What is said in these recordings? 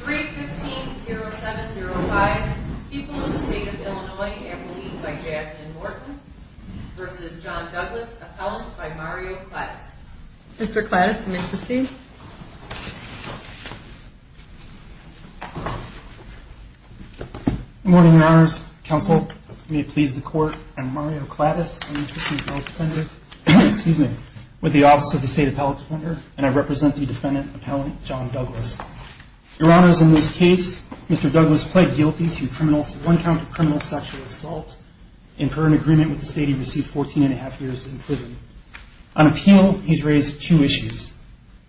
3-15-0705 People in the State of Illinois, Appellee by Jasmine Morton v. John Douglas, Appellant by Mario Clattis Mr. Clattis, may I proceed? Good morning, Your Honors. Counsel, may it please the Court, I'm Mario Clattis, an Assistant Appellate Defender with the Office of the State Appellate Defender and I represent the Defendant Appellant, John Douglas. Your Honors, in this case, Mr. Douglas pled guilty to one count of criminal sexual assault and for an agreement with the State, he received 14 and a half years in prison. On appeal, he's raised two issues.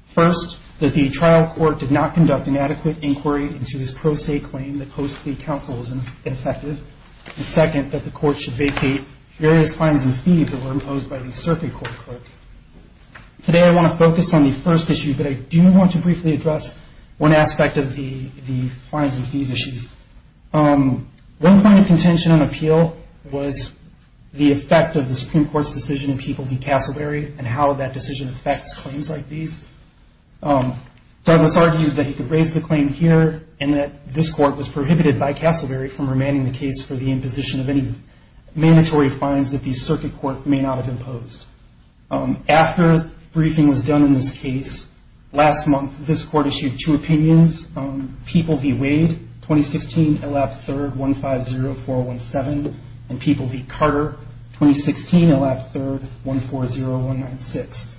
First, that the trial court did not conduct an adequate inquiry into his pro se claim that post plea counsel was ineffective. And second, that the court should vacate various fines and fees that were imposed by the circuit court clerk. Today, I want to focus on the first issue, but I do want to briefly address one aspect of the fines and fees issues. One point of contention on appeal was the effect of the Supreme Court's decision in People v. Casselberry and how that decision affects claims like these. Douglas argued that he could raise the claim here and that this court was prohibited by Casselberry from remanding the case for the imposition of any mandatory fines that the circuit court may not have imposed. After briefing was done in this case, last month, this court issued two opinions, People v. Wade, 2016, elapsed third, 1504017, and People v. Carter, 2016, elapsed third, 140196.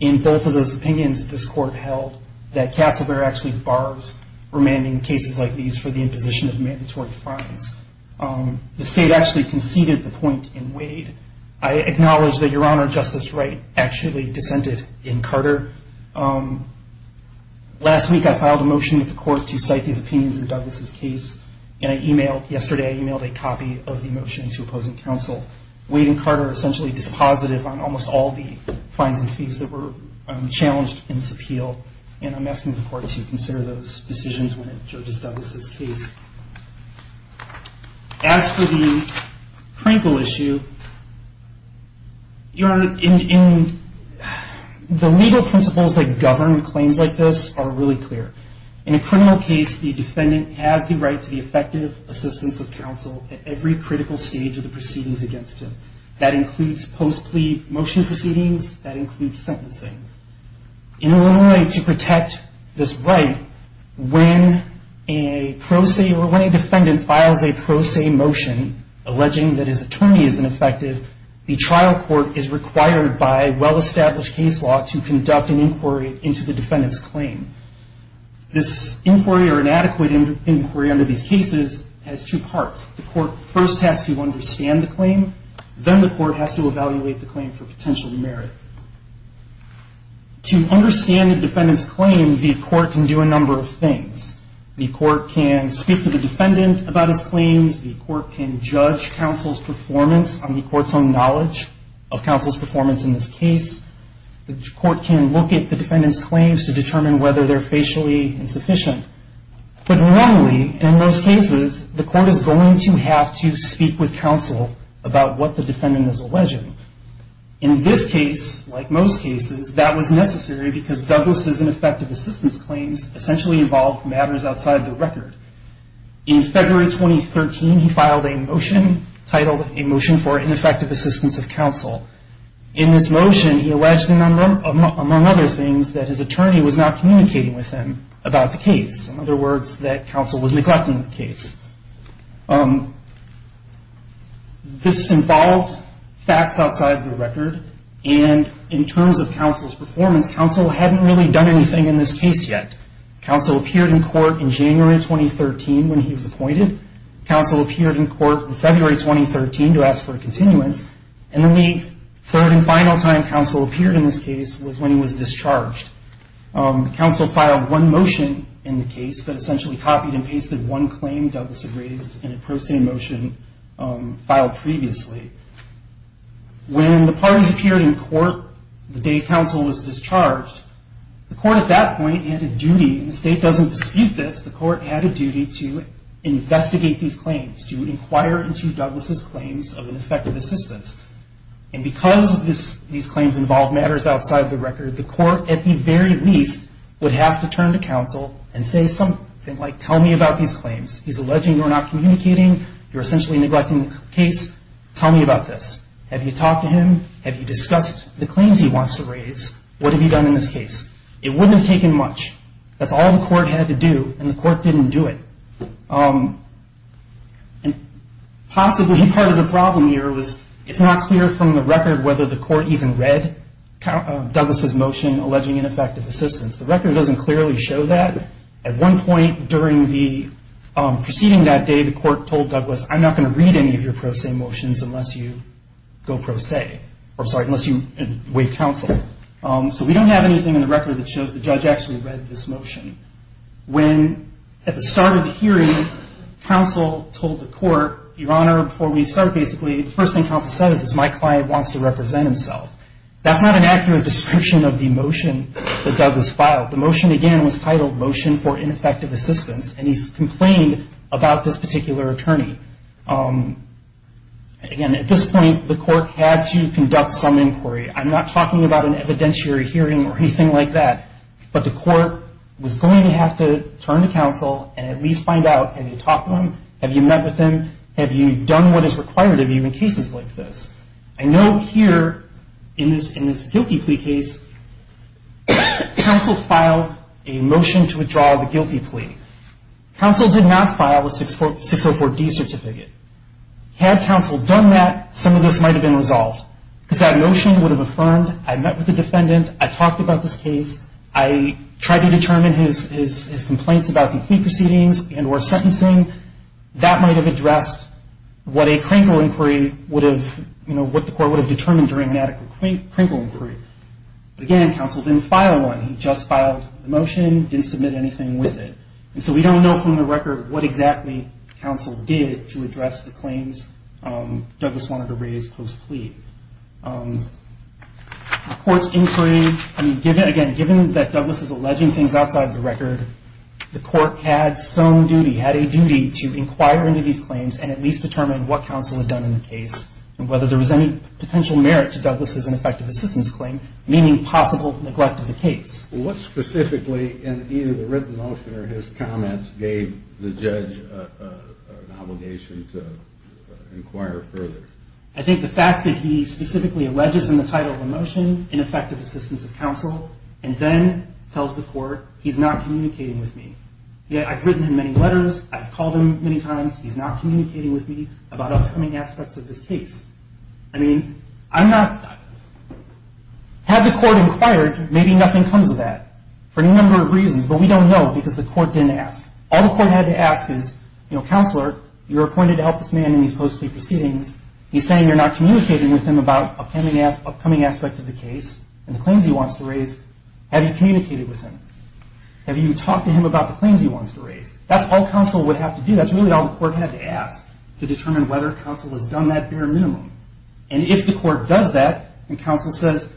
In both of those opinions, this court held that Casselberry actually bars remanding cases like these for the imposition of mandatory fines. The state actually conceded the point in Wade. I acknowledge that Your Honor, Justice Wright actually dissented in Carter. Last week, I filed a motion at the court to cite these opinions in Douglas' case, and I emailed, yesterday I emailed a copy of the motion to opposing counsel. Wade and Carter are essentially dispositive on almost all the fines and fees that were challenged in this appeal, and I'm asking the court to consider those decisions when it judges Douglas' case. As for the Krinkle issue, Your Honor, in the legal principles that govern claims like this are really clear. In a criminal case, the defendant has the right to the effective assistance of counsel at every critical stage of the proceedings against him. That includes post-plea motion proceedings. That includes sentencing. In order to protect this right, when a pro se or when a defendant files a pro se motion alleging that his attorney is ineffective, the trial court is required by well-established case law to conduct an inquiry into the defendant's claim. This inquiry or inadequate inquiry under these cases has two parts. The court first has to understand the claim. Then the court has to evaluate the claim for potential merit. To understand the defendant's claim, the court can do a number of things. The court can speak to the defendant about his claims. The court can judge counsel's performance on the court's own knowledge of counsel's performance in this case. The court can look at the defendant's claims to determine whether they're facially insufficient. But normally, in most cases, the court is going to have to speak with counsel about what the defendant is alleging. In this case, like most cases, that was necessary because Douglas' ineffective assistance claims essentially involved matters outside the record. In February 2013, he filed a motion titled A Motion for Ineffective Assistance of Counsel. In this motion, he alleged, among other things, that his attorney was not communicating with him about the case. In other words, that counsel was neglecting the case. This involved facts outside the record, and in terms of counsel's performance, counsel hadn't really done anything in this case yet. Counsel appeared in court in January 2013 when he was appointed. Counsel appeared in court in February 2013 to ask for a continuance. And the third and final time counsel appeared in this case was when he was discharged. Counsel filed one motion in the case that essentially copied and pasted one claim Douglas had raised in a pro se motion filed previously. When the parties appeared in court the day counsel was discharged, the court at that point had a duty, and the state doesn't dispute this, the court had a duty to investigate these claims, to inquire into Douglas' claims of ineffective assistance. And because these claims involved matters outside the record, the court, at the very least, would have to turn to counsel and say something like, tell me about these claims. He's alleging you're not communicating, you're essentially neglecting the case, tell me about this. Have you talked to him? Have you discussed the claims he wants to raise? What have you done in this case? It wouldn't have taken much. That's all the court had to do, and the court didn't do it. Possibly part of the problem here was it's not clear from the record whether the court even read Douglas' motion alleging ineffective assistance. The record doesn't clearly show that. At one point during the proceeding that day, the court told Douglas, I'm not going to read any of your pro se motions unless you go pro se, or sorry, unless you waive counsel. So we don't have anything in the record that shows the judge actually read this motion. When, at the start of the hearing, counsel told the court, Your Honor, before we start, basically, the first thing counsel says is my client wants to represent himself. That's not an accurate description of the motion that Douglas filed. The motion, again, was titled Motion for Ineffective Assistance, and he complained about this particular attorney. Again, at this point, the court had to conduct some inquiry. I'm not talking about an evidentiary hearing or anything like that, but the court was going to have to turn to counsel and at least find out, have you talked to him? Have you met with him? Have you done what is required of you in cases like this? I know here in this guilty plea case, counsel filed a motion to withdraw the guilty plea. Counsel did not file a 604D certificate. Had counsel done that, some of this might have been resolved because that motion would have affirmed I met with the defendant, I talked about this case, I tried to determine his complaints about the plea proceedings and or sentencing. That might have addressed what a crinkle inquiry would have, you know, what the court would have determined during a medical crinkle inquiry. Again, counsel didn't file one. He just filed the motion, didn't submit anything with it. And so we don't know from the record what exactly counsel did to address the claims that Douglas wanted to raise post-plea. The court's inquiry, I mean, again, given that Douglas is alleging things outside the record, the court had some duty, had a duty to inquire into these claims and at least determine what counsel had done in the case and whether there was any potential merit to Douglas' ineffective assistance claim, meaning possible neglect of the case. What specifically in either the written motion or his comments gave the judge an obligation to inquire further? I think the fact that he specifically alleges in the title of the motion ineffective assistance of counsel and then tells the court he's not communicating with me. I've written him many letters. I've called him many times. He's not communicating with me about upcoming aspects of this case. I mean, I'm not. Had the court inquired, maybe nothing comes of that for any number of reasons, but we don't know because the court didn't ask. All the court had to ask is, you know, Counselor, you're appointed to help this man in these post-plea proceedings. He's saying you're not communicating with him about upcoming aspects of the case and the claims he wants to raise. Have you communicated with him? Have you talked to him about the claims he wants to raise? That's all counsel would have to do. That's really all the court had to ask to determine whether counsel has done that bare minimum. And if the court does that and counsel says,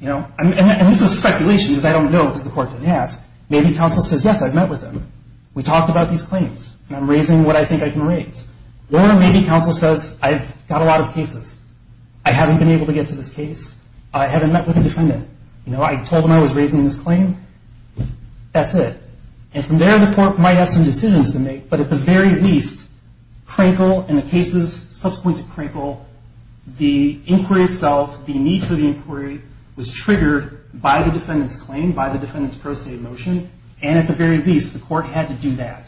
you know, and this is speculation because I don't know because the court didn't ask, maybe counsel says, yes, I've met with him. We talked about these claims and I'm raising what I think I can raise. Or maybe counsel says, I've got a lot of cases. I haven't been able to get to this case. I haven't met with a defendant. You know, I told him I was raising this claim. That's it. And from there, the court might have some decisions to make. But at the very least, Crankle and the cases subsequent to Crankle, the inquiry itself, the need for the inquiry was triggered by the defendant's claim, by the defendant's pro se motion. And at the very least, the court had to do that,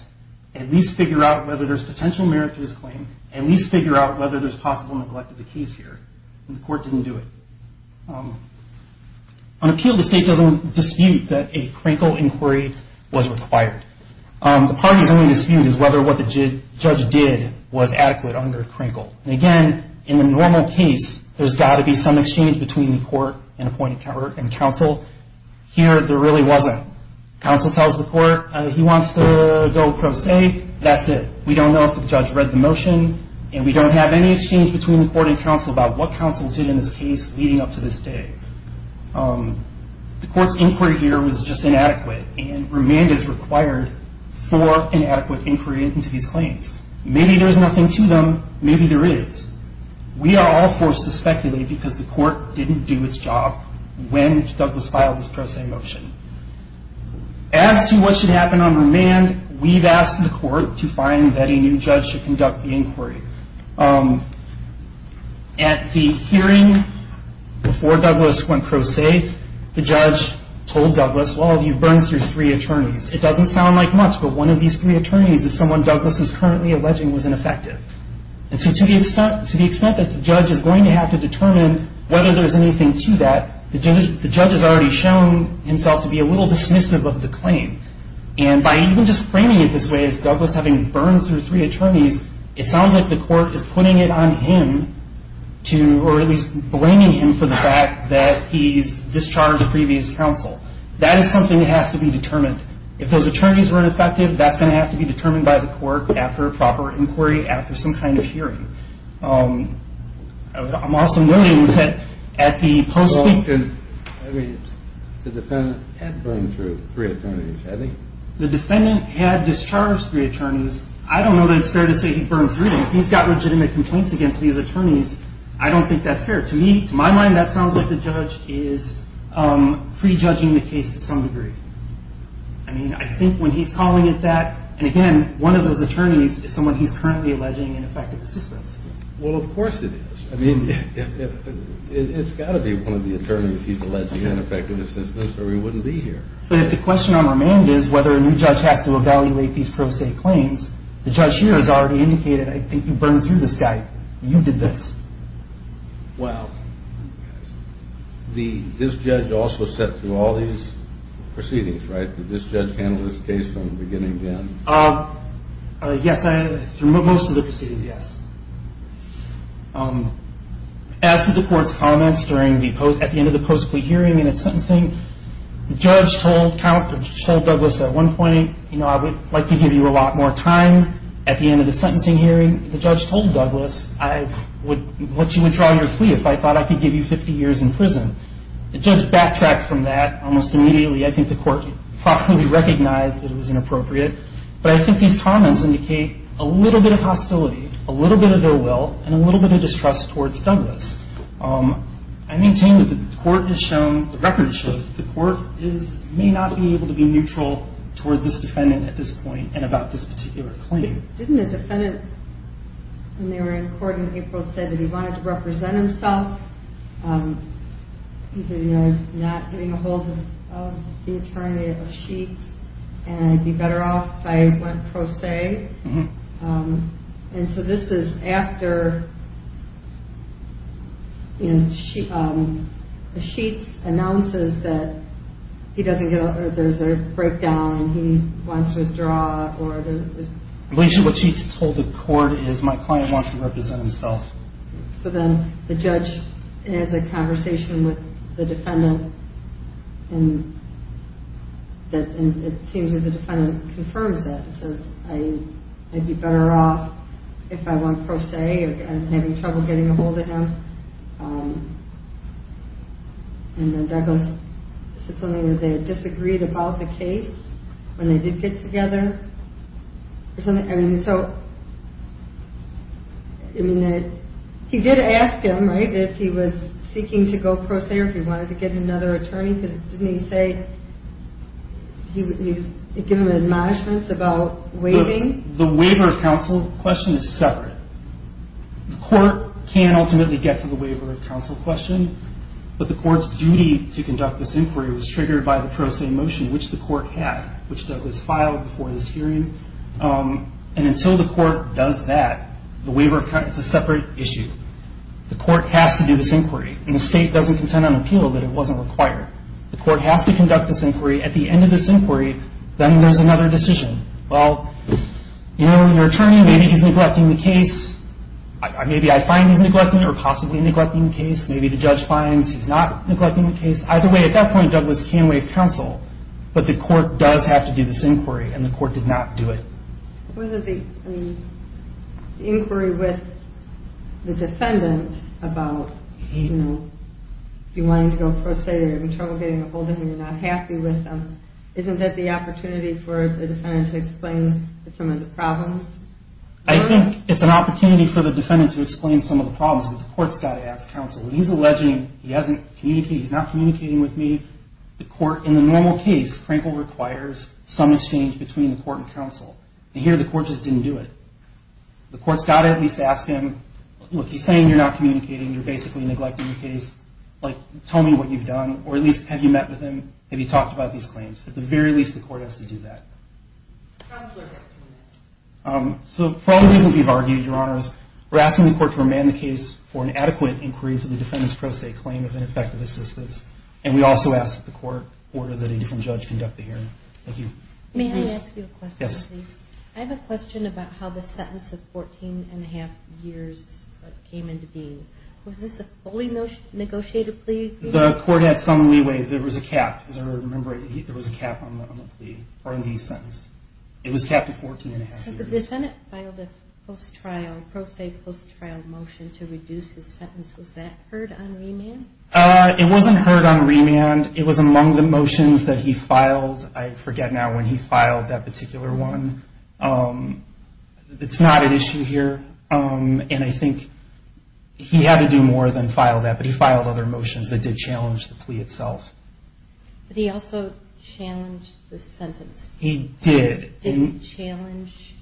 at least figure out whether there's potential merit to this claim, at least figure out whether there's possible neglect of the case here. And the court didn't do it. On appeal, the state doesn't dispute that a Crankle inquiry was required. The parties only dispute is whether what the judge did was adequate under Crankle. And, again, in the normal case, there's got to be some exchange between the court and appointed counsel. Here, there really wasn't. Counsel tells the court he wants to go pro se, that's it. We don't know if the judge read the motion and we don't have any exchange between the court and counsel about what counsel did in this case leading up to this day. The court's inquiry here was just inadequate and remand is required for inadequate inquiry into these claims. Maybe there's nothing to them, maybe there is. We are all forced to speculate because the court didn't do its job when Douglas filed this pro se motion. As to what should happen on remand, At the hearing before Douglas went pro se, the judge told Douglas, well, you've burned through three attorneys. It doesn't sound like much, but one of these three attorneys is someone Douglas is currently alleging was ineffective. And so to the extent that the judge is going to have to determine whether there's anything to that, the judge has already shown himself to be a little dismissive of the claim. And by even just framing it this way, as Douglas having burned through three attorneys, it sounds like the court is putting it on him to, or at least blaming him for the fact that he's discharged previous counsel. That is something that has to be determined. If those attorneys were ineffective, that's going to have to be determined by the court after a proper inquiry, after some kind of hearing. I'm also noting that at the post- I mean, the defendant had burned through three attorneys, had he? The defendant had discharged three attorneys. I don't know that it's fair to say he burned through them. If he's got legitimate complaints against these attorneys, I don't think that's fair. To me, to my mind, that sounds like the judge is prejudging the case to some degree. I mean, I think when he's calling it that, and again, one of those attorneys is someone he's currently alleging ineffective assistance. Well, of course it is. I mean, it's got to be one of the attorneys he's alleging ineffective assistance, or he wouldn't be here. But if the question on remand is whether a new judge has to evaluate these pro se claims, the judge here has already indicated, I think you burned through this guy. You did this. Wow. This judge also sat through all these proceedings, right? Did this judge handle this case from beginning to end? Yes, through most of the proceedings, yes. As with the court's comments at the end of the post-plea hearing and at sentencing, the judge told Douglas at one point, you know, I would like to give you a lot more time at the end of the sentencing hearing. The judge told Douglas what you would draw your plea if I thought I could give you 50 years in prison. The judge backtracked from that almost immediately. I think the court probably recognized that it was inappropriate. But I think these comments indicate a little bit of hostility, a little bit of ill will, and a little bit of distrust towards Douglas. I maintain that the court has shown, the record shows, the court may not be able to be neutral toward this defendant at this point and about this particular claim. Didn't the defendant, when they were in court in April, say that he wanted to represent himself? He said, you know, not getting ahold of the attorney of a sheet, and I'd be better off if I went pro se. And so this is after the sheets announces that there's a breakdown and he wants to withdraw. What she told the court is my client wants to represent himself. So then the judge has a conversation with the defendant and it seems that the defendant confirms that. It says, I'd be better off if I went pro se and having trouble getting ahold of him. And then Douglas said something, that they disagreed about the case when they did get together. And so, I mean, he did ask him, right, if he was seeking to go pro se or if he wanted to get another attorney. Because didn't he say he was giving him admonishments about waiving? The waiver of counsel question is separate. The court can ultimately get to the waiver of counsel question, but the court's duty to conduct this inquiry was triggered by the pro se motion, which the court had, which Douglas filed before this hearing. And until the court does that, the waiver of counsel is a separate issue. The court has to do this inquiry, and the state doesn't contend on appeal that it wasn't required. The court has to conduct this inquiry. At the end of this inquiry, then there's another decision. Well, you know, your attorney, maybe he's neglecting the case. Maybe I find he's neglecting it or possibly neglecting the case. Maybe the judge finds he's not neglecting the case. Either way, at that point, Douglas can waive counsel. But the court does have to do this inquiry, and the court did not do it. Was it the inquiry with the defendant about, you know, if you wanted to go pro se, you're having trouble getting a hold of him, you're not happy with him. Isn't that the opportunity for the defendant to explain some of the problems? I think it's an opportunity for the defendant to explain some of the problems, but the court's got to ask counsel. When he's alleging he hasn't communicated, he's not communicating with me, the court, in the normal case, Crankle requires some exchange between the court and counsel. And here the court just didn't do it. The court's got to at least ask him, look, he's saying you're not communicating. You're basically neglecting the case. Like, tell me what you've done, or at least have you met with him? Have you talked about these claims? At the very least, the court has to do that. So for all the reasons we've argued, Your Honors, we're asking the court to remand the case for an adequate inquiry into the defendant's pro se claim of ineffective assistance, and we also ask that the court order that a different judge conduct the hearing. Thank you. May I ask you a question, please? Yes. I have a question about how the sentence of 14 1⁄2 years came into being. Was this a fully negotiated plea? The court had some leeway. There was a cap. As I remember, there was a cap on the plea, or on the sentence. It was capped at 14 1⁄2 years. So the defendant filed a post-trial, pro se post-trial motion to reduce his sentence. Was that heard on remand? It wasn't heard on remand. It was among the motions that he filed. I forget now when he filed that particular one. It's not an issue here, and I think he had to do more than file that, but he filed other motions that did challenge the plea itself. But he also challenged the sentence. He did. Did he challenge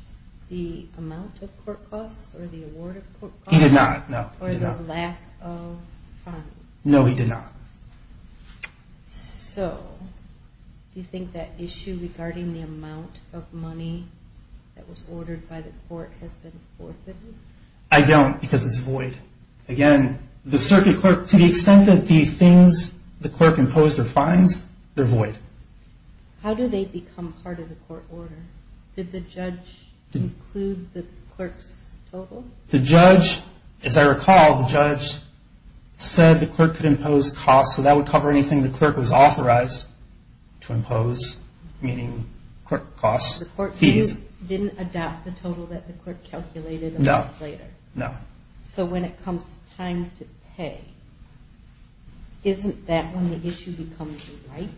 the amount of court costs or the award of court costs? He did not, no. Or the lack of funds? No, he did not. So do you think that issue regarding the amount of money that was ordered by the court has been forfeited? I don't because it's void. Again, the circuit clerk, to the extent that the things the clerk imposed are fines, they're void. How did they become part of the court order? Did the judge include the clerk's total? The judge, as I recall, the judge said the clerk could impose costs, so that would cover anything the clerk was authorized to impose, meaning clerk costs, fees. The court didn't adopt the total that the clerk calculated a month later? No. So when it comes time to pay, isn't that when the issue becomes a right?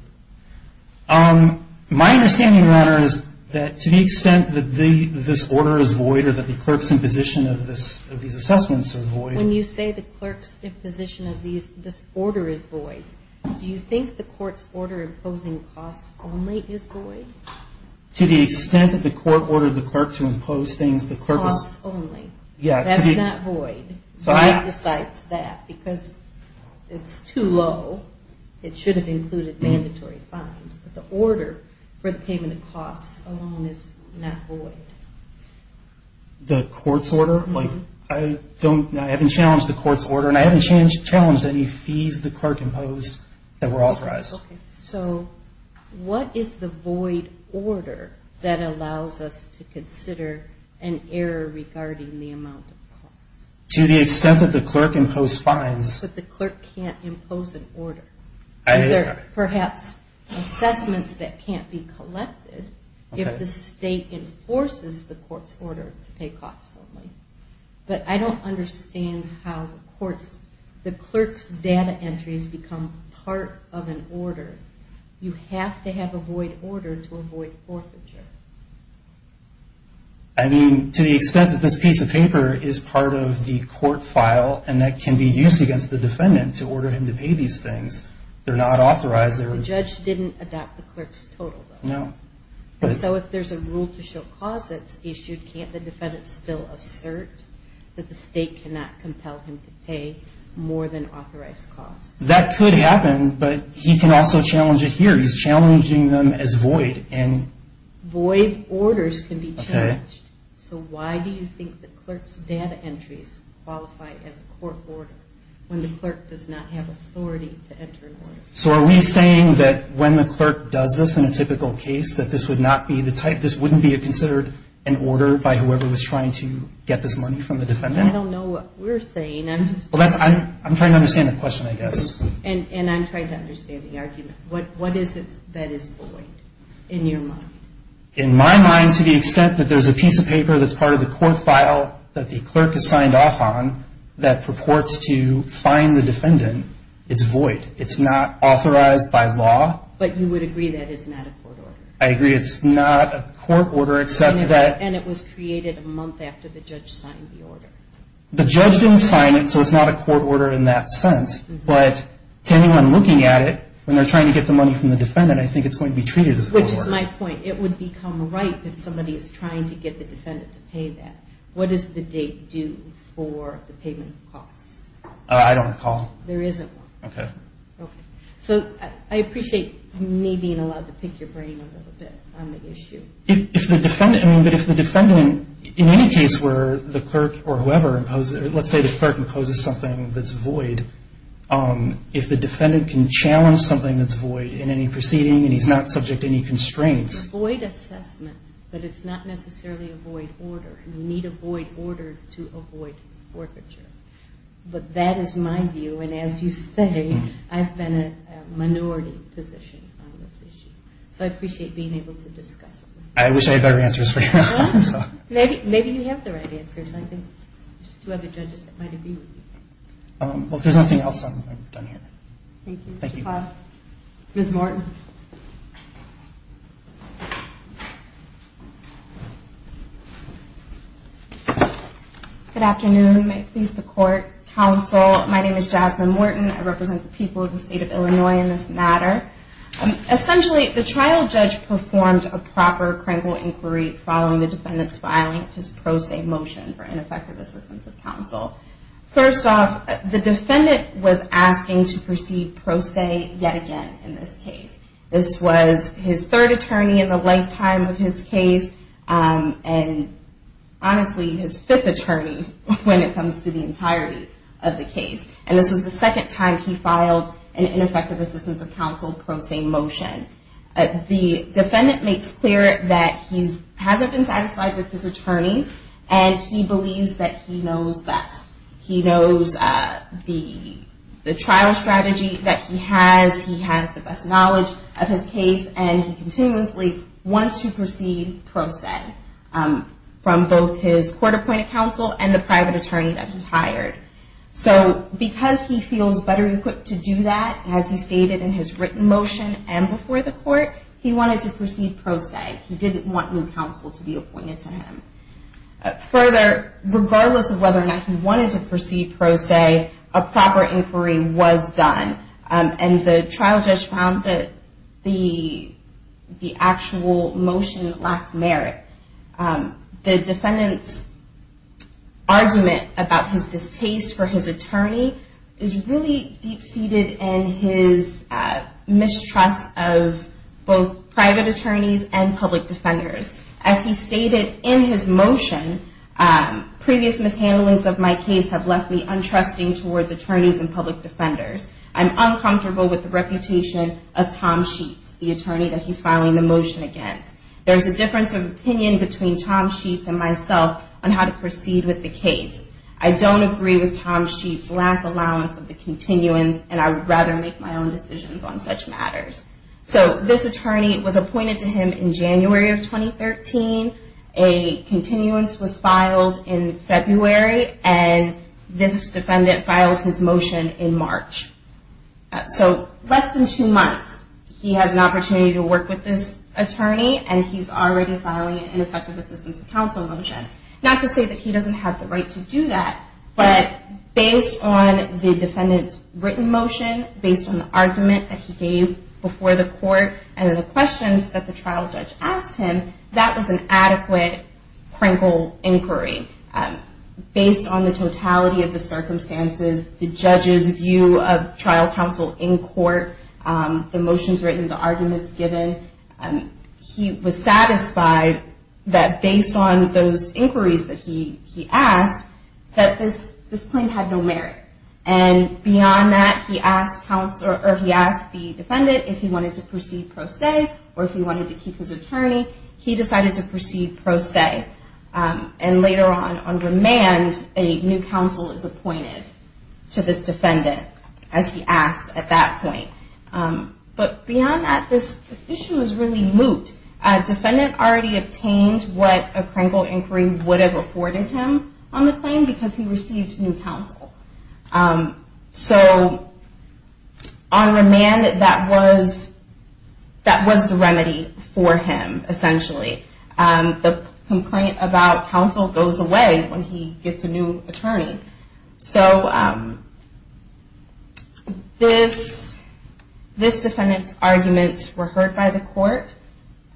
My understanding, Your Honor, is that to the extent that this order is void or that the clerk's imposition of these assessments are void. When you say the clerk's imposition of this order is void, do you think the court's order imposing costs only is void? To the extent that the court ordered the clerk to impose things, the clerk was – Costs only. Yeah. That's not void. Why besides that? Because it's too low. It should have included mandatory fines. But the order for the payment of costs alone is not void. The court's order? I haven't challenged the court's order, and I haven't challenged any fees the clerk imposed that were authorized. Okay. So what is the void order that allows us to consider an error regarding the amount of costs? To the extent that the clerk imposed fines. But the clerk can't impose an order. Perhaps assessments that can't be collected if the state enforces the court's order to pay costs only. But I don't understand how the clerk's data entries become part of an order. You have to have a void order to avoid forfeiture. I mean, to the extent that this piece of paper is part of the court file and that can be used against the defendant to order him to pay these things, they're not authorized. The judge didn't adopt the clerk's total, though. No. So if there's a rule to show costs that's issued, can't the defendant still assert that the state cannot compel him to pay more than authorized costs? That could happen, but he can also challenge it here. He's challenging them as void. Void orders can be challenged. So why do you think the clerk's data entries qualify as a court order when the clerk does not have authority to enter an order? So are we saying that when the clerk does this in a typical case, that this would not be the type, this wouldn't be considered an order by whoever was trying to get this money from the defendant? I don't know what we're saying. I'm trying to understand the question, I guess. And I'm trying to understand the argument. What is it that is void in your mind? In my mind, to the extent that there's a piece of paper that's part of the court file that the clerk has signed off on that purports to fine the defendant, it's void. It's not authorized by law. But you would agree that it's not a court order. I agree. It's not a court order except that. And it was created a month after the judge signed the order. The judge didn't sign it, so it's not a court order in that sense. But to anyone looking at it, when they're trying to get the money from the defendant, I think it's going to be treated as a court order. Which is my point. It would become ripe if somebody is trying to get the defendant to pay that. What does the date do for the payment of costs? I don't recall. There isn't one. Okay. Okay. So I appreciate me being allowed to pick your brain a little bit on the issue. But if the defendant, in any case where the clerk or whoever imposes, let's say the clerk imposes something that's void, if the defendant can challenge something that's void in any proceeding and he's not subject to any constraints. It's a void assessment, but it's not necessarily a void order. You need a void order to avoid forfeiture. But that is my view. And as you say, I've been a minority position on this issue. So I appreciate being able to discuss it with you. I wish I had better answers for you. Maybe you have the right answers. I think there's two other judges that might agree with you. Well, if there's nothing else, I'm done here. Thank you. Thank you. Ms. Morton. Good afternoon. May it please the Court. Counsel, my name is Jasmine Morton. I represent the people of the State of Illinois in this matter. Essentially, the trial judge performed a proper criminal inquiry following the defendant's filing his pro se motion for ineffective assistance of counsel. First off, the defendant was asking to proceed pro se yet again in this case. This was his third attorney in the lifetime of his case, and honestly his fifth attorney when it comes to the entirety of the case. And this was the second time he filed an ineffective assistance of counsel pro se motion. The defendant makes clear that he hasn't been satisfied with his attorneys and he believes that he knows best. He knows the trial strategy that he has. He has the best knowledge of his case, and he continuously wants to proceed pro se from both his court-appointed counsel and the private attorney that he hired. So because he feels better equipped to do that, as he stated in his written motion and before the court, he wanted to proceed pro se. He didn't want new counsel to be appointed to him. Further, regardless of whether or not he wanted to proceed pro se, a proper inquiry was done. And the trial judge found that the actual motion lacked merit. The defendant's argument about his distaste for his attorney is really deep of both private attorneys and public defenders. As he stated in his motion, previous mishandlings of my case have left me untrusting towards attorneys and public defenders. I'm uncomfortable with the reputation of Tom Sheets, the attorney that he's filing the motion against. There's a difference of opinion between Tom Sheets and myself on how to proceed with the case. I don't agree with Tom Sheets' last allowance of the continuance, and I would rather make my own decisions on such matters. So this attorney was appointed to him in January of 2013. A continuance was filed in February, and this defendant files his motion in March. So less than two months, he has an opportunity to work with this attorney, and he's already filing an ineffective assistance of counsel motion. Not to say that he doesn't have the right to do that, but based on the defendant's written motion, based on the argument that he gave before the court, and the questions that the trial judge asked him, that was an adequate, crinkle inquiry. Based on the totality of the circumstances, the judge's view of trial counsel in court, the motions written, the arguments given, he was satisfied that based on those inquiries that he asked, that this claim had no merit. And beyond that, he asked the defendant if he wanted to proceed pro se, or if he wanted to keep his attorney. He decided to proceed pro se. And later on, on demand, a new counsel is appointed to this defendant, as he asked at that point. But beyond that, this issue is really moot. A defendant already obtained what a crinkle inquiry would have afforded him on the claim, because he received new counsel. So, on demand, that was the remedy for him, essentially. The complaint about counsel goes away when he gets a new attorney. So, this defendant's arguments were heard by the court,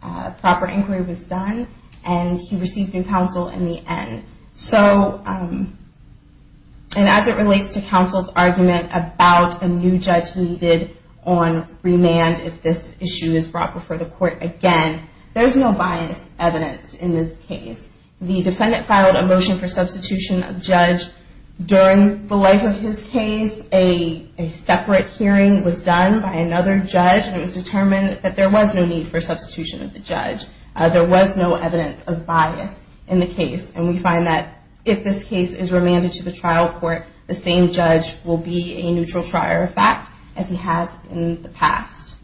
a proper inquiry was done, and he received new counsel in the end. So, and as it relates to counsel's argument about a new judge needed on remand, if this issue is brought before the court again, there's no bias evidenced in this case. The defendant filed a motion for substitution of judge. During the life of his case, a separate hearing was done by another judge, and it was determined that there was no need for substitution of the judge. There was no evidence of bias in the case, and we find that if this case is remanded to the trial court, the same judge will be a neutral trier of fact, as he has in the past.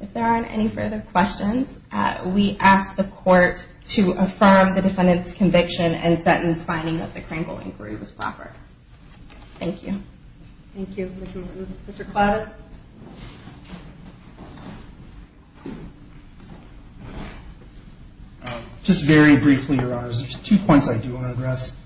If there aren't any further questions, we ask the court to affirm the defendant's conviction and sentence finding that the crinkle inquiry was proper. Thank you. Thank you, Mr. Martin. Mr. Klaas? Just very briefly, Your Honors, there's two points I do want to address.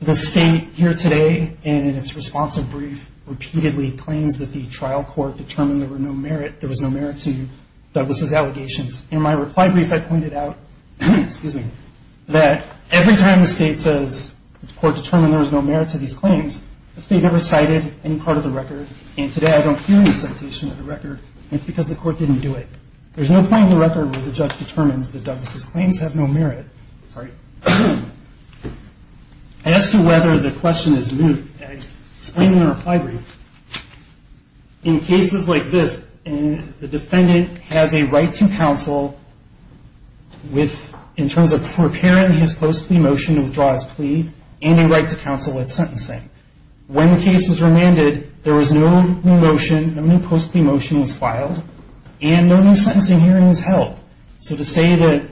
The state here today, in its responsive brief, repeatedly claims that the trial court determined there was no merit to Douglas' allegations. In my reply brief, I pointed out that every time the state says the court determined there was no merit to these claims, the state never cited any part of the record, and today I don't hear any citation of the record, and it's because the court didn't do it. There's no point in the record where the judge determines that Douglas' claims have no merit. Sorry. As to whether the question is moot, I explain in my reply brief, in cases like this, the defendant has a right to counsel in terms of preparing his post-plea motion to withdraw his plea and a right to counsel at sentencing. When the case was remanded, there was no new motion, no new post-plea motion was filed, and no new sentencing hearing was held. So to say that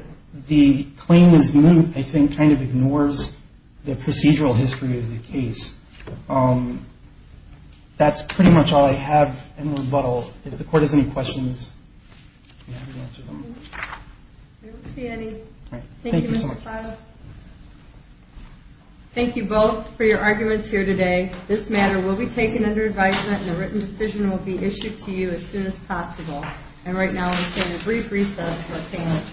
the claim is moot, I think, kind of ignores the procedural history of the case. That's pretty much all I have in rebuttal. If the court has any questions, I'm happy to answer them. I don't see any. Thank you, Mr. Klaas. Thank you both for your arguments here today. This matter will be taken under advisement, and a written decision will be issued to you as soon as possible. And right now, we'll take a brief recess for payment.